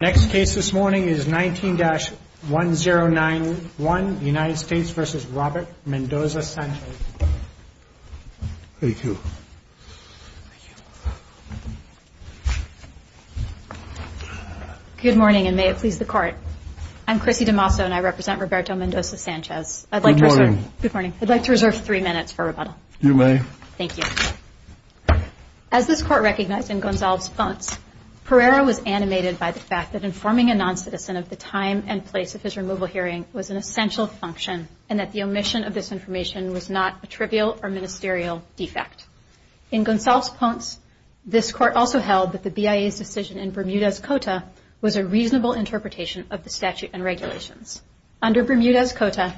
Next case this morning is 19-1091 United States v. Robert Mendoza-Sanchez Thank you Good morning and may it please the Court I'm Chrissy DeMasso and I represent Roberto Mendoza-Sanchez Good morning I'd like to reserve three minutes for rebuttal You may Thank you As this Court recognized in Gonzalves-Ponce, Pereira was animated by the fact that informing a non-citizen of the time and place of his removal hearing was an essential function and that the omission of this information was not a trivial or ministerial defect. In Gonzalves-Ponce, this Court also held that the BIA's decision in Bermuda's Cota under Bermuda's Cota,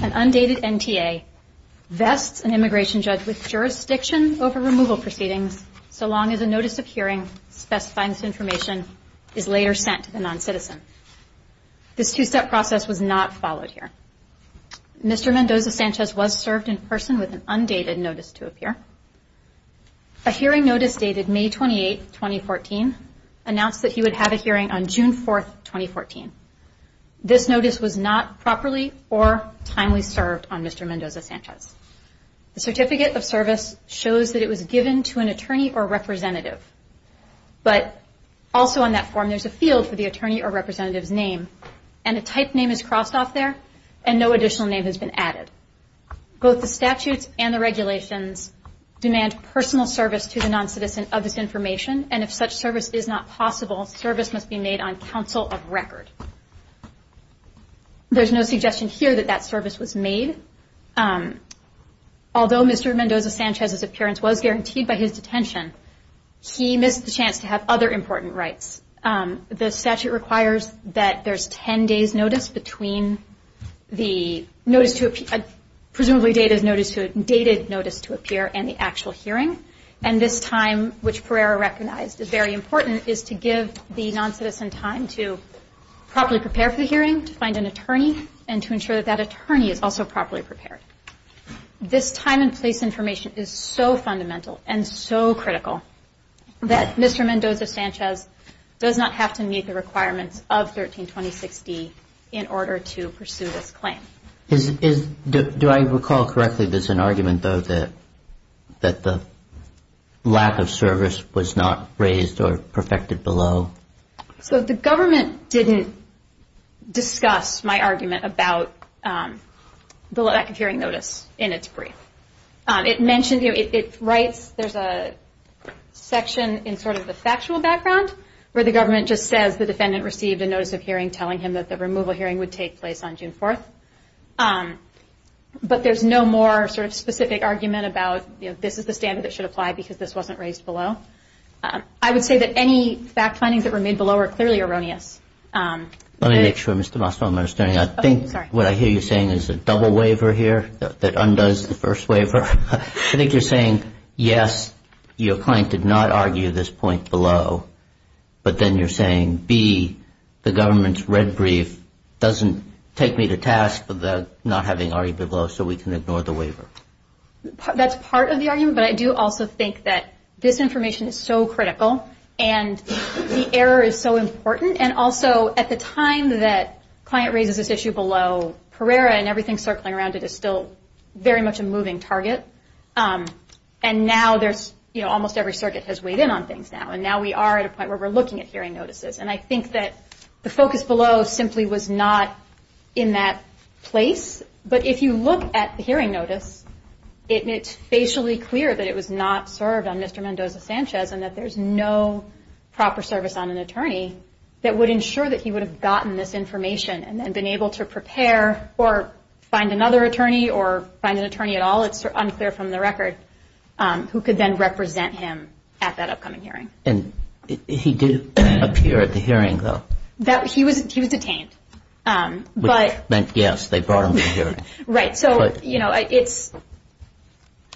an undated NTA, vests an immigration judge with jurisdiction over removal proceedings so long as a notice of hearing specifying this information is later sent to the non-citizen. This two-step process was not followed here. Mr. Mendoza-Sanchez was served in person with an undated notice to appear. A hearing notice dated May 28, 2014, announced that he would have a hearing on June 4, 2014. This notice was not properly or timely served on Mr. Mendoza-Sanchez. The certificate of service shows that it was given to an attorney or representative, but also on that form there's a field for the attorney or representative's name and a type name is crossed off there and no additional name has been added. Both the statutes and the regulations demand personal service to the non-citizen of this information and if such service is not possible, service must be made on counsel of record. There's no suggestion here that that service was made. Although Mr. Mendoza-Sanchez's appearance was guaranteed by his detention, he missed the chance to have other important rights. The statute requires that there's 10 days notice between the notice to appear, presumably dated notice to appear and the actual hearing, and this time, which Pereira recognized as very important, is to give the non-citizen time to properly prepare for the hearing, to find an attorney, and to ensure that that attorney is also properly prepared. This time and place information is so fundamental and so critical that Mr. Mendoza-Sanchez does not have to meet the requirements of 1326D in order to pursue this claim. Do I recall correctly there's an argument, though, that the lack of service was not raised or perfected below? So the government didn't discuss my argument about the lack of hearing notice in its brief. It mentioned, you know, it writes, there's a section in sort of the factual background where the government just says the defendant received a notice of hearing But there's no more sort of specific argument about, you know, this is the standard that should apply because this wasn't raised below. I would say that any fact findings that were made below are clearly erroneous. Let me make sure, Mr. Mastrom, I'm understanding. I think what I hear you saying is a double waiver here that undoes the first waiver. I think you're saying, yes, your client did not argue this point below, but then you're saying, B, the government's red brief doesn't take me to task for not having argued below so we can ignore the waiver. That's part of the argument. But I do also think that this information is so critical and the error is so important. And also at the time that client raises this issue below, Pereira and everything circling around it is still very much a moving target. And now there's, you know, almost every circuit has weighed in on things now. And now we are at a point where we're looking at hearing notices. And I think that the focus below simply was not in that place. But if you look at the hearing notice, it's facially clear that it was not served on Mr. Mendoza-Sanchez and that there's no proper service on an attorney that would ensure that he would have gotten this information and been able to prepare or find another attorney or find an attorney at all. It's unclear from the record who could then represent him at that upcoming hearing. And he did appear at the hearing, though. He was detained. Which meant, yes, they brought him to the hearing. Right. So, you know, it's – So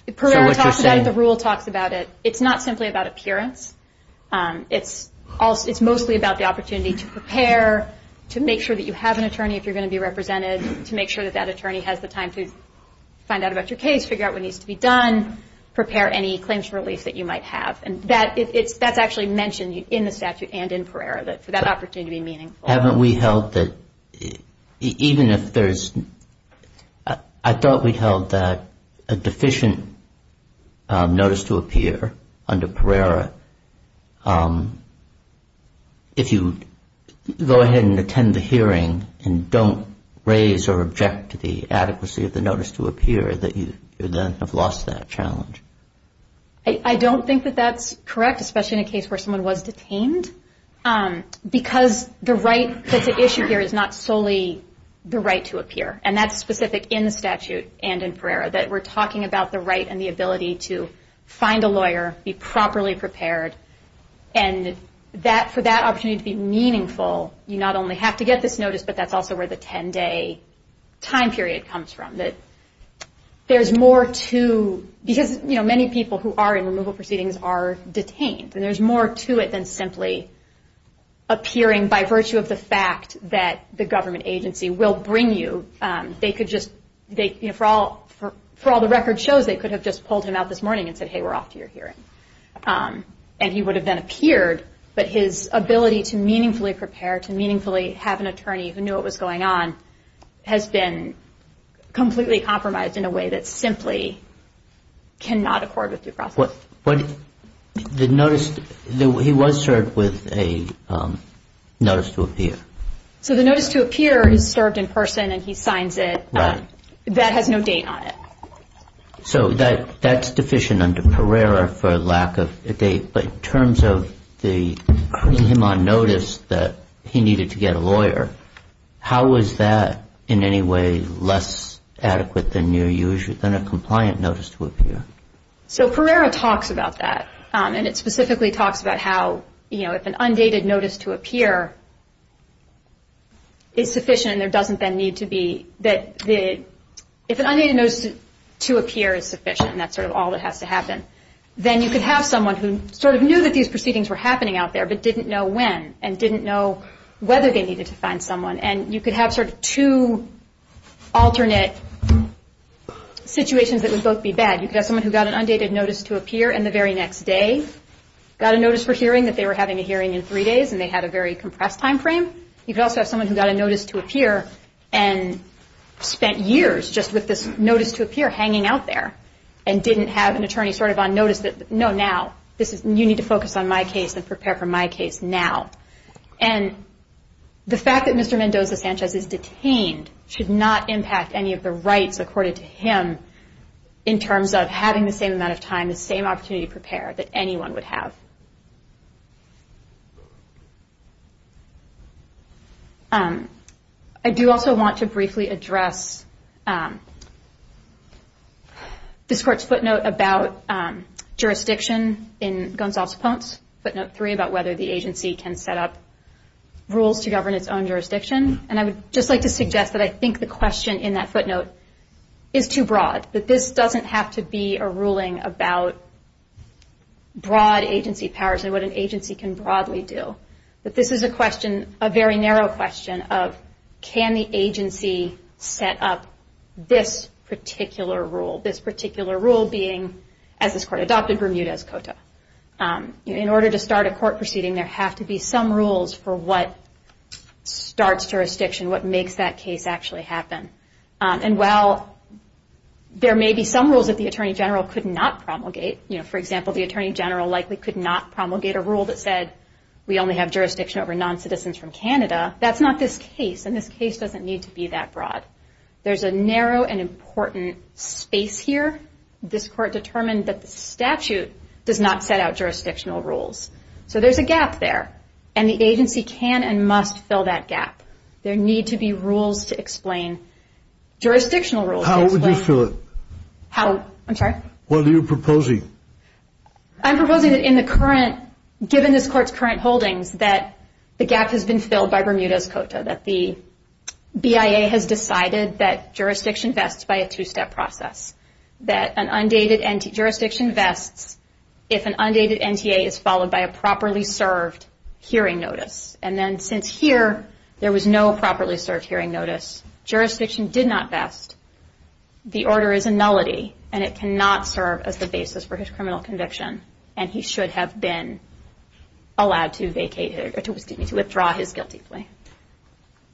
what you're saying – Pereira talks about it. The rule talks about it. It's not simply about appearance. It's mostly about the opportunity to prepare, to make sure that you have an attorney if you're going to be represented, to make sure that that attorney has the time to find out about your case, figure out what needs to be done, prepare any claims for relief that you might have. And that's actually mentioned in the statute and in Pereira, that for that opportunity to be meaningful. Haven't we held that – even if there's – I thought we held that a deficient notice to appear under Pereira, if you go ahead and attend the hearing and don't raise or object to the adequacy of the notice to appear, that you then have lost that challenge. I don't think that that's correct, especially in a case where someone was detained, because the right that's at issue here is not solely the right to appear. And that's specific in the statute and in Pereira, that we're talking about the right and the ability to find a lawyer, be properly prepared, and for that opportunity to be meaningful, you not only have to get this notice, but that's also where the 10-day time period comes from. There's more to – because many people who are in removal proceedings are detained, and there's more to it than simply appearing by virtue of the fact that the government agency will bring you. They could just – for all the record shows, they could have just pulled him out this morning and said, hey, we're off to your hearing. And he would have then appeared, but his ability to meaningfully prepare, to meaningfully have an attorney who knew what was going on, has been completely compromised in a way that simply cannot accord with due process. But the notice – he was served with a notice to appear. So the notice to appear is served in person and he signs it. Right. That has no date on it. So that's deficient under Pereira for lack of a date, but in terms of putting him on notice that he needed to get a lawyer, how is that in any way less adequate than a compliant notice to appear? So Pereira talks about that, and it specifically talks about how if an undated notice to appear is sufficient and there doesn't then need to be – that if an undated notice to appear is sufficient and that's sort of all that has to happen, then you could have someone who sort of knew that these proceedings were happening out there but didn't know when and didn't know whether they needed to find someone, and you could have sort of two alternate situations that would both be bad. You could have someone who got an undated notice to appear in the very next day, got a notice for hearing that they were having a hearing in three days and they had a very compressed timeframe. You could also have someone who got a notice to appear and spent years just with this notice to appear hanging out there and didn't have an attorney sort of on notice that, no, now, you need to focus on my case and prepare for my case now. And the fact that Mr. Mendoza-Sanchez is detained should not impact any of the rights accorded to him in terms of having the same amount of time, the same opportunity to prepare that anyone would have. I do also want to briefly address this Court's footnote about jurisdiction in Gonzales-Ponce, footnote three, about whether the agency can set up rules to govern its own jurisdiction, and I would just like to suggest that I think the question in that footnote is too broad, that this doesn't have to be a ruling about broad agency powers and what an agency can broadly do, that this is a question, a very narrow question, of can the agency set up this particular rule, this particular rule being as this Court adopted Bermuda's Cota. In order to start a court proceeding, there have to be some rules for what starts jurisdiction, what makes that case actually happen. And while there may be some rules that the Attorney General could not promulgate, for example, the Attorney General likely could not promulgate a rule that said we only have jurisdiction over non-citizens from Canada, that's not this case, and this case doesn't need to be that broad. There's a narrow and important space here. This Court determined that the statute does not set out jurisdictional rules. So there's a gap there, and the agency can and must fill that gap. There need to be rules to explain jurisdictional rules. How would you fill it? How? I'm sorry? What are you proposing? I'm proposing that in the current, given this Court's current holdings, that the gap has been filled by Bermuda's Cota, that the BIA has decided that jurisdiction vests by a two-step process, that a jurisdiction vests if an undated NTA is followed by a properly served hearing notice. And then since here there was no properly served hearing notice, jurisdiction did not vest, the order is a nullity, and it cannot serve as the basis for his criminal conviction, and he should have been allowed to withdraw his guilty plea.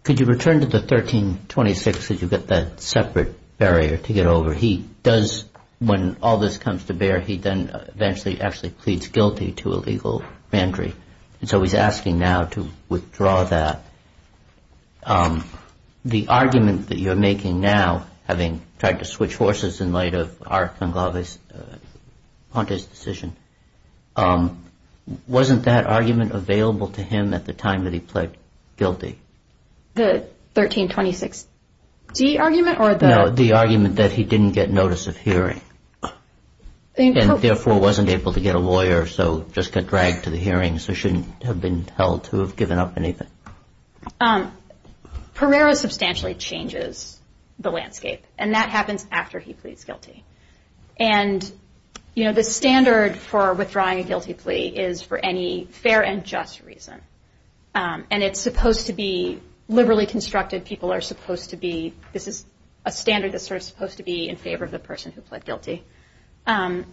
Could you return to the 1326, since you've got that separate barrier to get over? He does, when all this comes to bear, he then eventually actually pleads guilty to illegal banditry. And so he's asking now to withdraw that. The argument that you're making now, having tried to switch horses in light of Arcanglave's, Ponte's decision, wasn't that argument available to him at the time that he pled guilty? The 1326d argument, or the? No, the argument that he didn't get notice of hearing, and therefore wasn't able to get a lawyer, so just got dragged to the hearing, so shouldn't have been held to have given up anything. Pereira substantially changes the landscape, and that happens after he pleads guilty. And, you know, the standard for withdrawing a guilty plea is for any fair and just reason, and it's supposed to be liberally constructed, people are supposed to be, this is a standard that's sort of supposed to be in favor of the person who pled guilty. But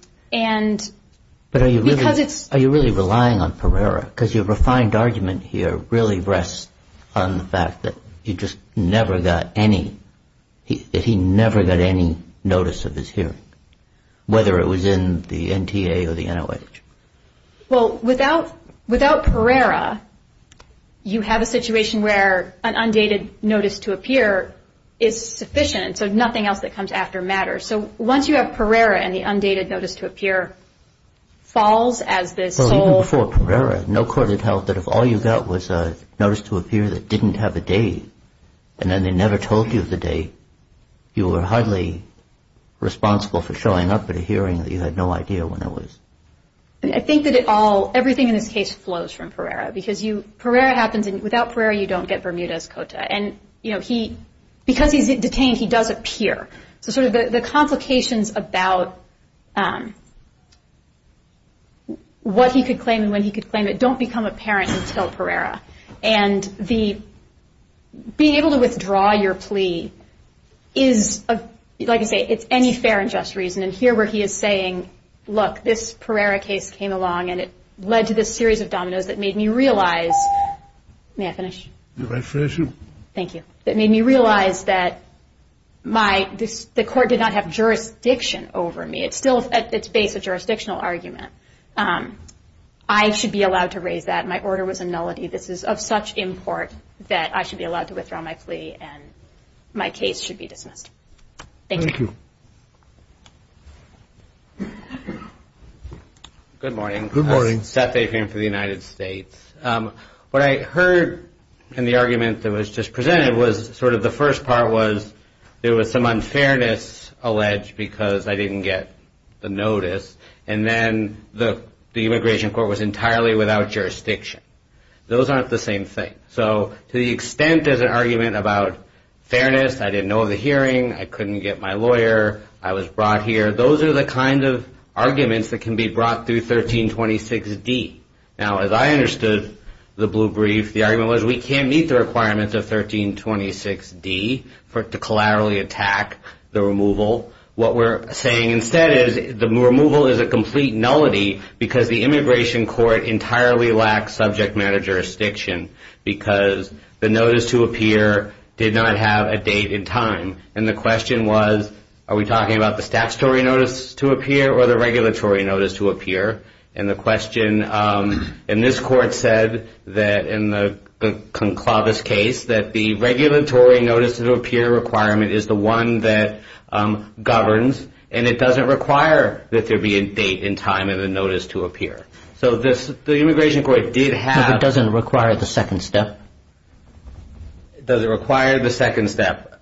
are you really relying on Pereira? Because your refined argument here really rests on the fact that he just never got any, that he never got any notice of his hearing, whether it was in the NTA or the NOH. Well, without Pereira, you have a situation where an undated notice to appear is sufficient, so nothing else that comes after matters. So once you have Pereira and the undated notice to appear falls as the sole? Well, even before Pereira, no court had held that if all you got was a notice to appear that didn't have a date, and then they never told you the date, you were hardly responsible for showing up at a hearing that you had no idea when it was. I think that it all, everything in this case flows from Pereira, because you, Pereira happens, and without Pereira, you don't get Bermuda's Cota. And, you know, he, because he's detained, he does appear. So sort of the complications about what he could claim and when he could claim it don't become apparent until Pereira. And the, being able to withdraw your plea is, like I say, it's any fair and just reason. And here where he is saying, look, this Pereira case came along and it led to this series of dominoes that made me realize, may I finish? You may finish. Thank you. That made me realize that my, the court did not have jurisdiction over me. It's still at its base a jurisdictional argument. I should be allowed to raise that. My order was a nullity. This is of such import that I should be allowed to withdraw my plea and my case should be dismissed. Thank you. Thank you. Good morning. Good morning. Seth Aikman for the United States. What I heard in the argument that was just presented was sort of the first part was there was some unfairness alleged because I didn't get the notice. And then the immigration court was entirely without jurisdiction. Those aren't the same thing. So to the extent there's an argument about fairness, I didn't know of the hearing, I couldn't get my lawyer, I was brought here, those are the kind of arguments that can be brought through 1326D. Now, as I understood the blue brief, the argument was we can't meet the requirements of 1326D to collaterally attack the removal. What we're saying instead is the removal is a complete nullity because the immigration court entirely lacks subject matter jurisdiction because the notice to appear did not have a date in time. And the question was are we talking about the statutory notice to appear or the regulatory notice to appear? And the question in this court said that in the Conclavus case that the regulatory notice to appear requirement is the one that governs and it doesn't require that there be a date and time in the notice to appear. So the immigration court did have... So it doesn't require the second step? It doesn't require the second step.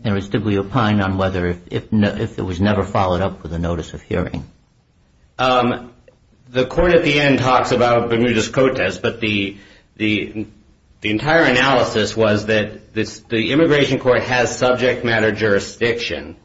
In other words, did we opine on whether if it was never followed up with a notice of hearing? The court at the end talks about Bermudez-Cotes, but the entire analysis was that the immigration court has subject matter jurisdiction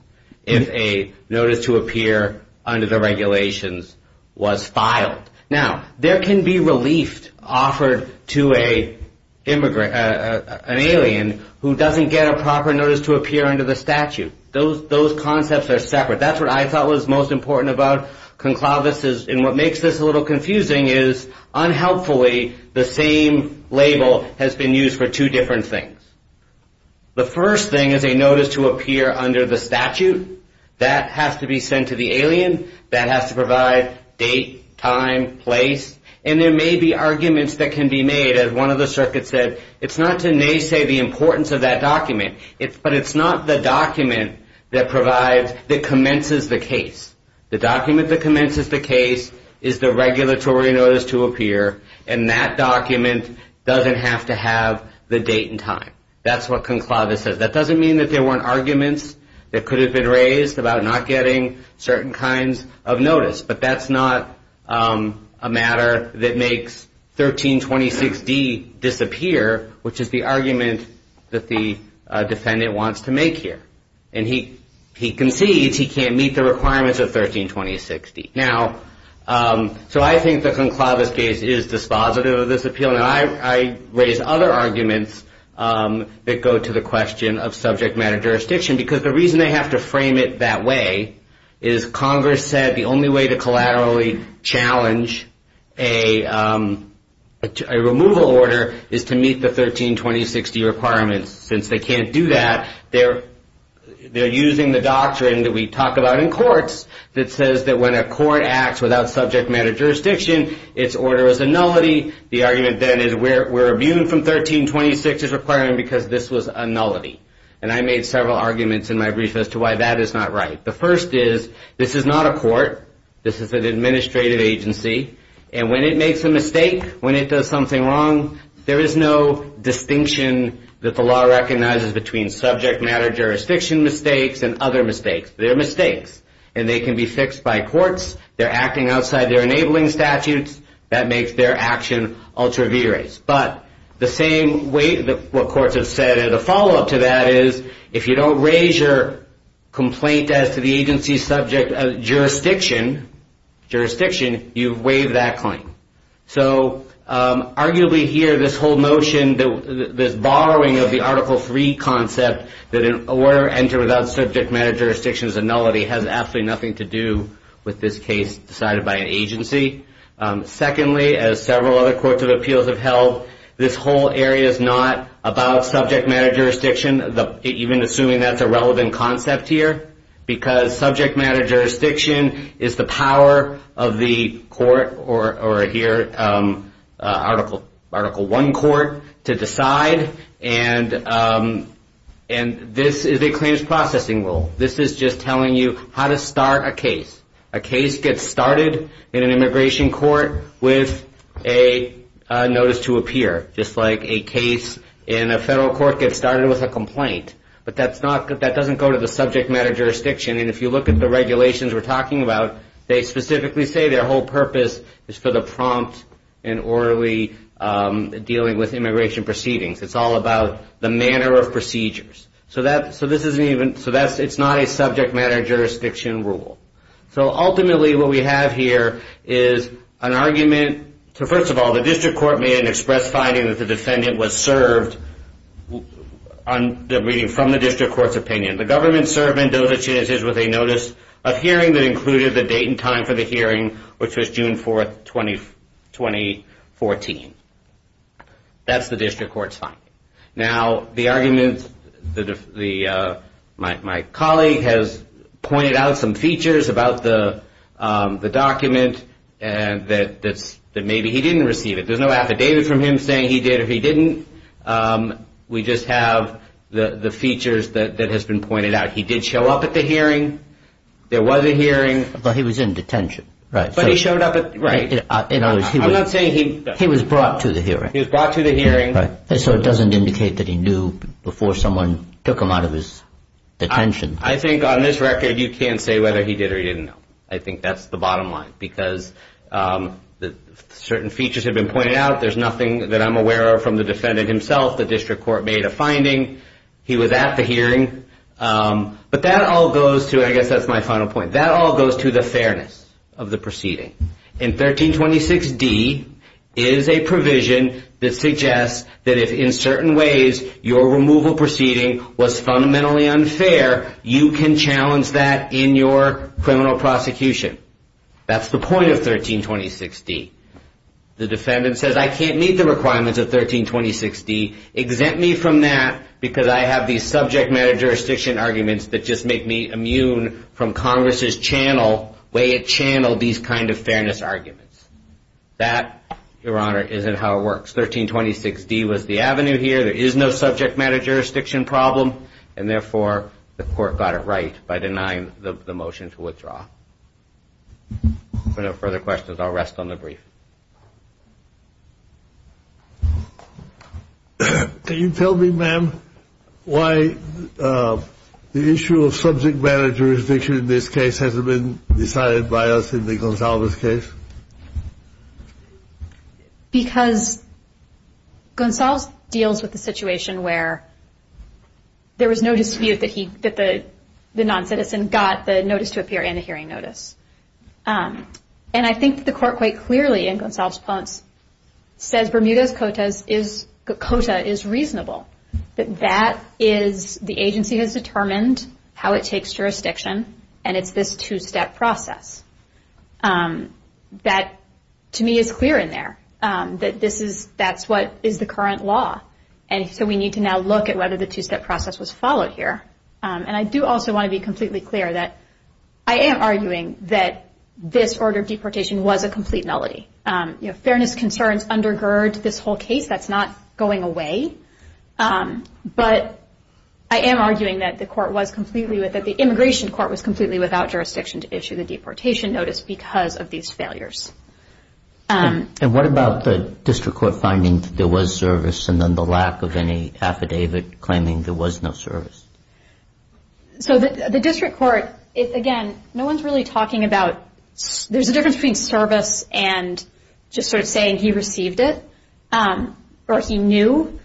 if a notice to appear under the regulations was filed. Now, there can be relief offered to an alien who doesn't get a proper notice to appear under the statute. Those concepts are separate. That's what I thought was most important about Conclavus. And what makes this a little confusing is, unhelpfully, the same label has been used for two different things. The first thing is a notice to appear under the statute. That has to be sent to the alien. That has to provide date, time, place. And there may be arguments that can be made. As one of the circuits said, it's not to naysay the importance of that document, but it's not the document that commences the case. The document that commences the case is the regulatory notice to appear, and that document doesn't have to have the date and time. That's what Conclavus says. That doesn't mean that there weren't arguments that could have been raised about not getting certain kinds of notice, but that's not a matter that makes 1326D disappear, which is the argument that the defendant wants to make here. And he concedes he can't meet the requirements of 1326D. Now, so I think the Conclavus case is dispositive of this appeal, and I raise other arguments that go to the question of subject matter jurisdiction, because the reason they have to frame it that way is Congress said the only way to collaterally challenge a removal order is to meet the 1326D requirements. Since they can't do that, they're using the doctrine that we talk about in courts that says that when a court acts without subject matter jurisdiction, its order is a nullity. The argument then is we're abusing from 1326D's requirement because this was a nullity, and I made several arguments in my brief as to why that is not right. The first is this is not a court. This is an administrative agency, and when it makes a mistake, when it does something wrong, there is no distinction that the law recognizes between subject matter jurisdiction mistakes and other mistakes. They're mistakes, and they can be fixed by courts. They're acting outside their enabling statutes. That makes their action ultra-viris. But the same way that what courts have said, and the follow-up to that is if you don't raise your complaint as to the agency's subject jurisdiction, you've waived that claim. Arguably here, this whole notion, this borrowing of the Article III concept that an order entered without subject matter jurisdiction is a nullity has absolutely nothing to do with this case decided by an agency. Secondly, as several other courts of appeals have held, this whole area is not about subject matter jurisdiction, even assuming that's a relevant concept here, because subject matter jurisdiction is the power of the court or here Article I court to decide, and this is a claims processing rule. This is just telling you how to start a case. A case gets started in an immigration court with a notice to appear, just like a case in a federal court gets started with a complaint. But that doesn't go to the subject matter jurisdiction, and if you look at the regulations we're talking about, they specifically say their whole purpose is for the prompt and orderly dealing with immigration proceedings. It's all about the manner of procedures. So it's not a subject matter jurisdiction rule. So ultimately what we have here is an argument. So first of all, the district court made an express finding that the defendant was served from the district court's opinion. The government servant, Dovich, is with a notice of hearing that included the date and time for the hearing, which was June 4, 2014. That's the district court's finding. Now the argument, my colleague has pointed out some features about the document that maybe he didn't receive it. There's no affidavit from him saying he did or he didn't. We just have the features that has been pointed out. He did show up at the hearing. There was a hearing. But he was in detention. But he showed up at the hearing. I'm not saying he... He was brought to the hearing. He was brought to the hearing. So it doesn't indicate that he knew before someone took him out of his detention. I think on this record you can't say whether he did or he didn't know. I think that's the bottom line because certain features have been pointed out. There's nothing that I'm aware of from the defendant himself. The district court made a finding. He was at the hearing. But that all goes to, and I guess that's my final point, that all goes to the fairness of the proceeding. And 1326D is a provision that suggests that if in certain ways your removal proceeding was fundamentally unfair, you can challenge that in your criminal prosecution. That's the point of 1326D. The defendant says, I can't meet the requirements of 1326D. Exempt me from that because I have these subject matter jurisdiction arguments that just make me immune from Congress' channel, the way it channeled these kind of fairness arguments. That, Your Honor, isn't how it works. 1326D was the avenue here. There is no subject matter jurisdiction problem. And, therefore, the court got it right by denying the motion to withdraw. If there are no further questions, I'll rest on the brief. Can you tell me, ma'am, why the issue of subject matter jurisdiction in this case hasn't been decided by us in the Gonsalves case? Because Gonsalves deals with the situation where there was no dispute that the noncitizen got the notice to appear and the hearing notice. And I think the court quite clearly, in Gonsalves' points, says Bermuda's quota is reasonable, that that is the agency has determined how it takes jurisdiction, and it's this two-step process. That, to me, is clear in there, that that's what is the current law. And so we need to now look at whether the two-step process was followed here. And I do also want to be completely clear that I am arguing that this order of deportation was a complete nullity. Fairness concerns undergird this whole case. That's not going away. But I am arguing that the court was completely with it. The immigration court was completely without jurisdiction to issue the deportation notice because of these failures. And what about the district court finding that there was service and then the lack of any affidavit claiming there was no service? So the district court, again, no one is really talking about there's a difference between service and just sort of saying he received it or he knew.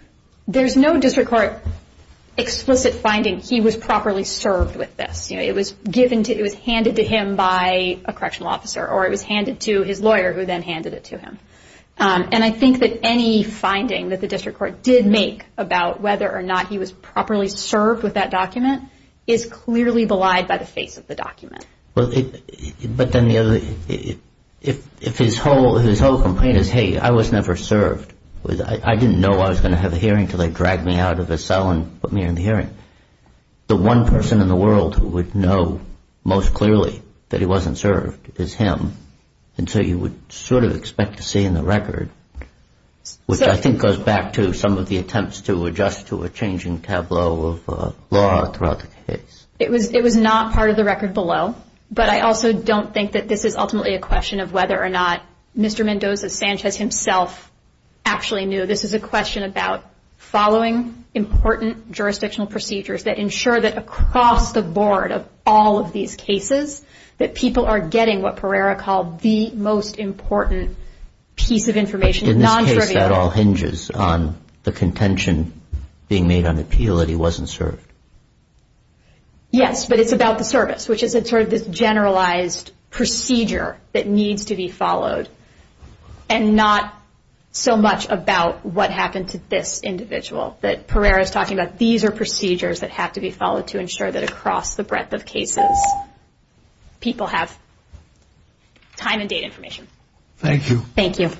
There's no district court explicit finding he was properly served with this. It was handed to him by a correctional officer or it was handed to his lawyer who then handed it to him. And I think that any finding that the district court did make about whether or not he was properly served with that document is clearly belied by the face of the document. But then the other, if his whole complaint is, hey, I was never served, I didn't know I was going to have a hearing until they dragged me out of his cell and put me in the hearing. The one person in the world who would know most clearly that he wasn't served is him. And so you would sort of expect to see in the record, which I think goes back to some of the attempts to adjust to a changing tableau of law throughout the case. It was not part of the record below. But I also don't think that this is ultimately a question of whether or not Mr. Mendoza Sanchez himself actually knew. This is a question about following important jurisdictional procedures that ensure that across the board of all of these cases that people are getting what Pereira called the most important piece of information. In this case, that all hinges on the contention being made on the appeal that he wasn't served. Yes, but it's about the service, which is sort of this generalized procedure that needs to be followed and not so much about what happened to this individual that Pereira is talking about. These are procedures that have to be followed to ensure that across the breadth of cases people have time and date information. Thank you. Thank you.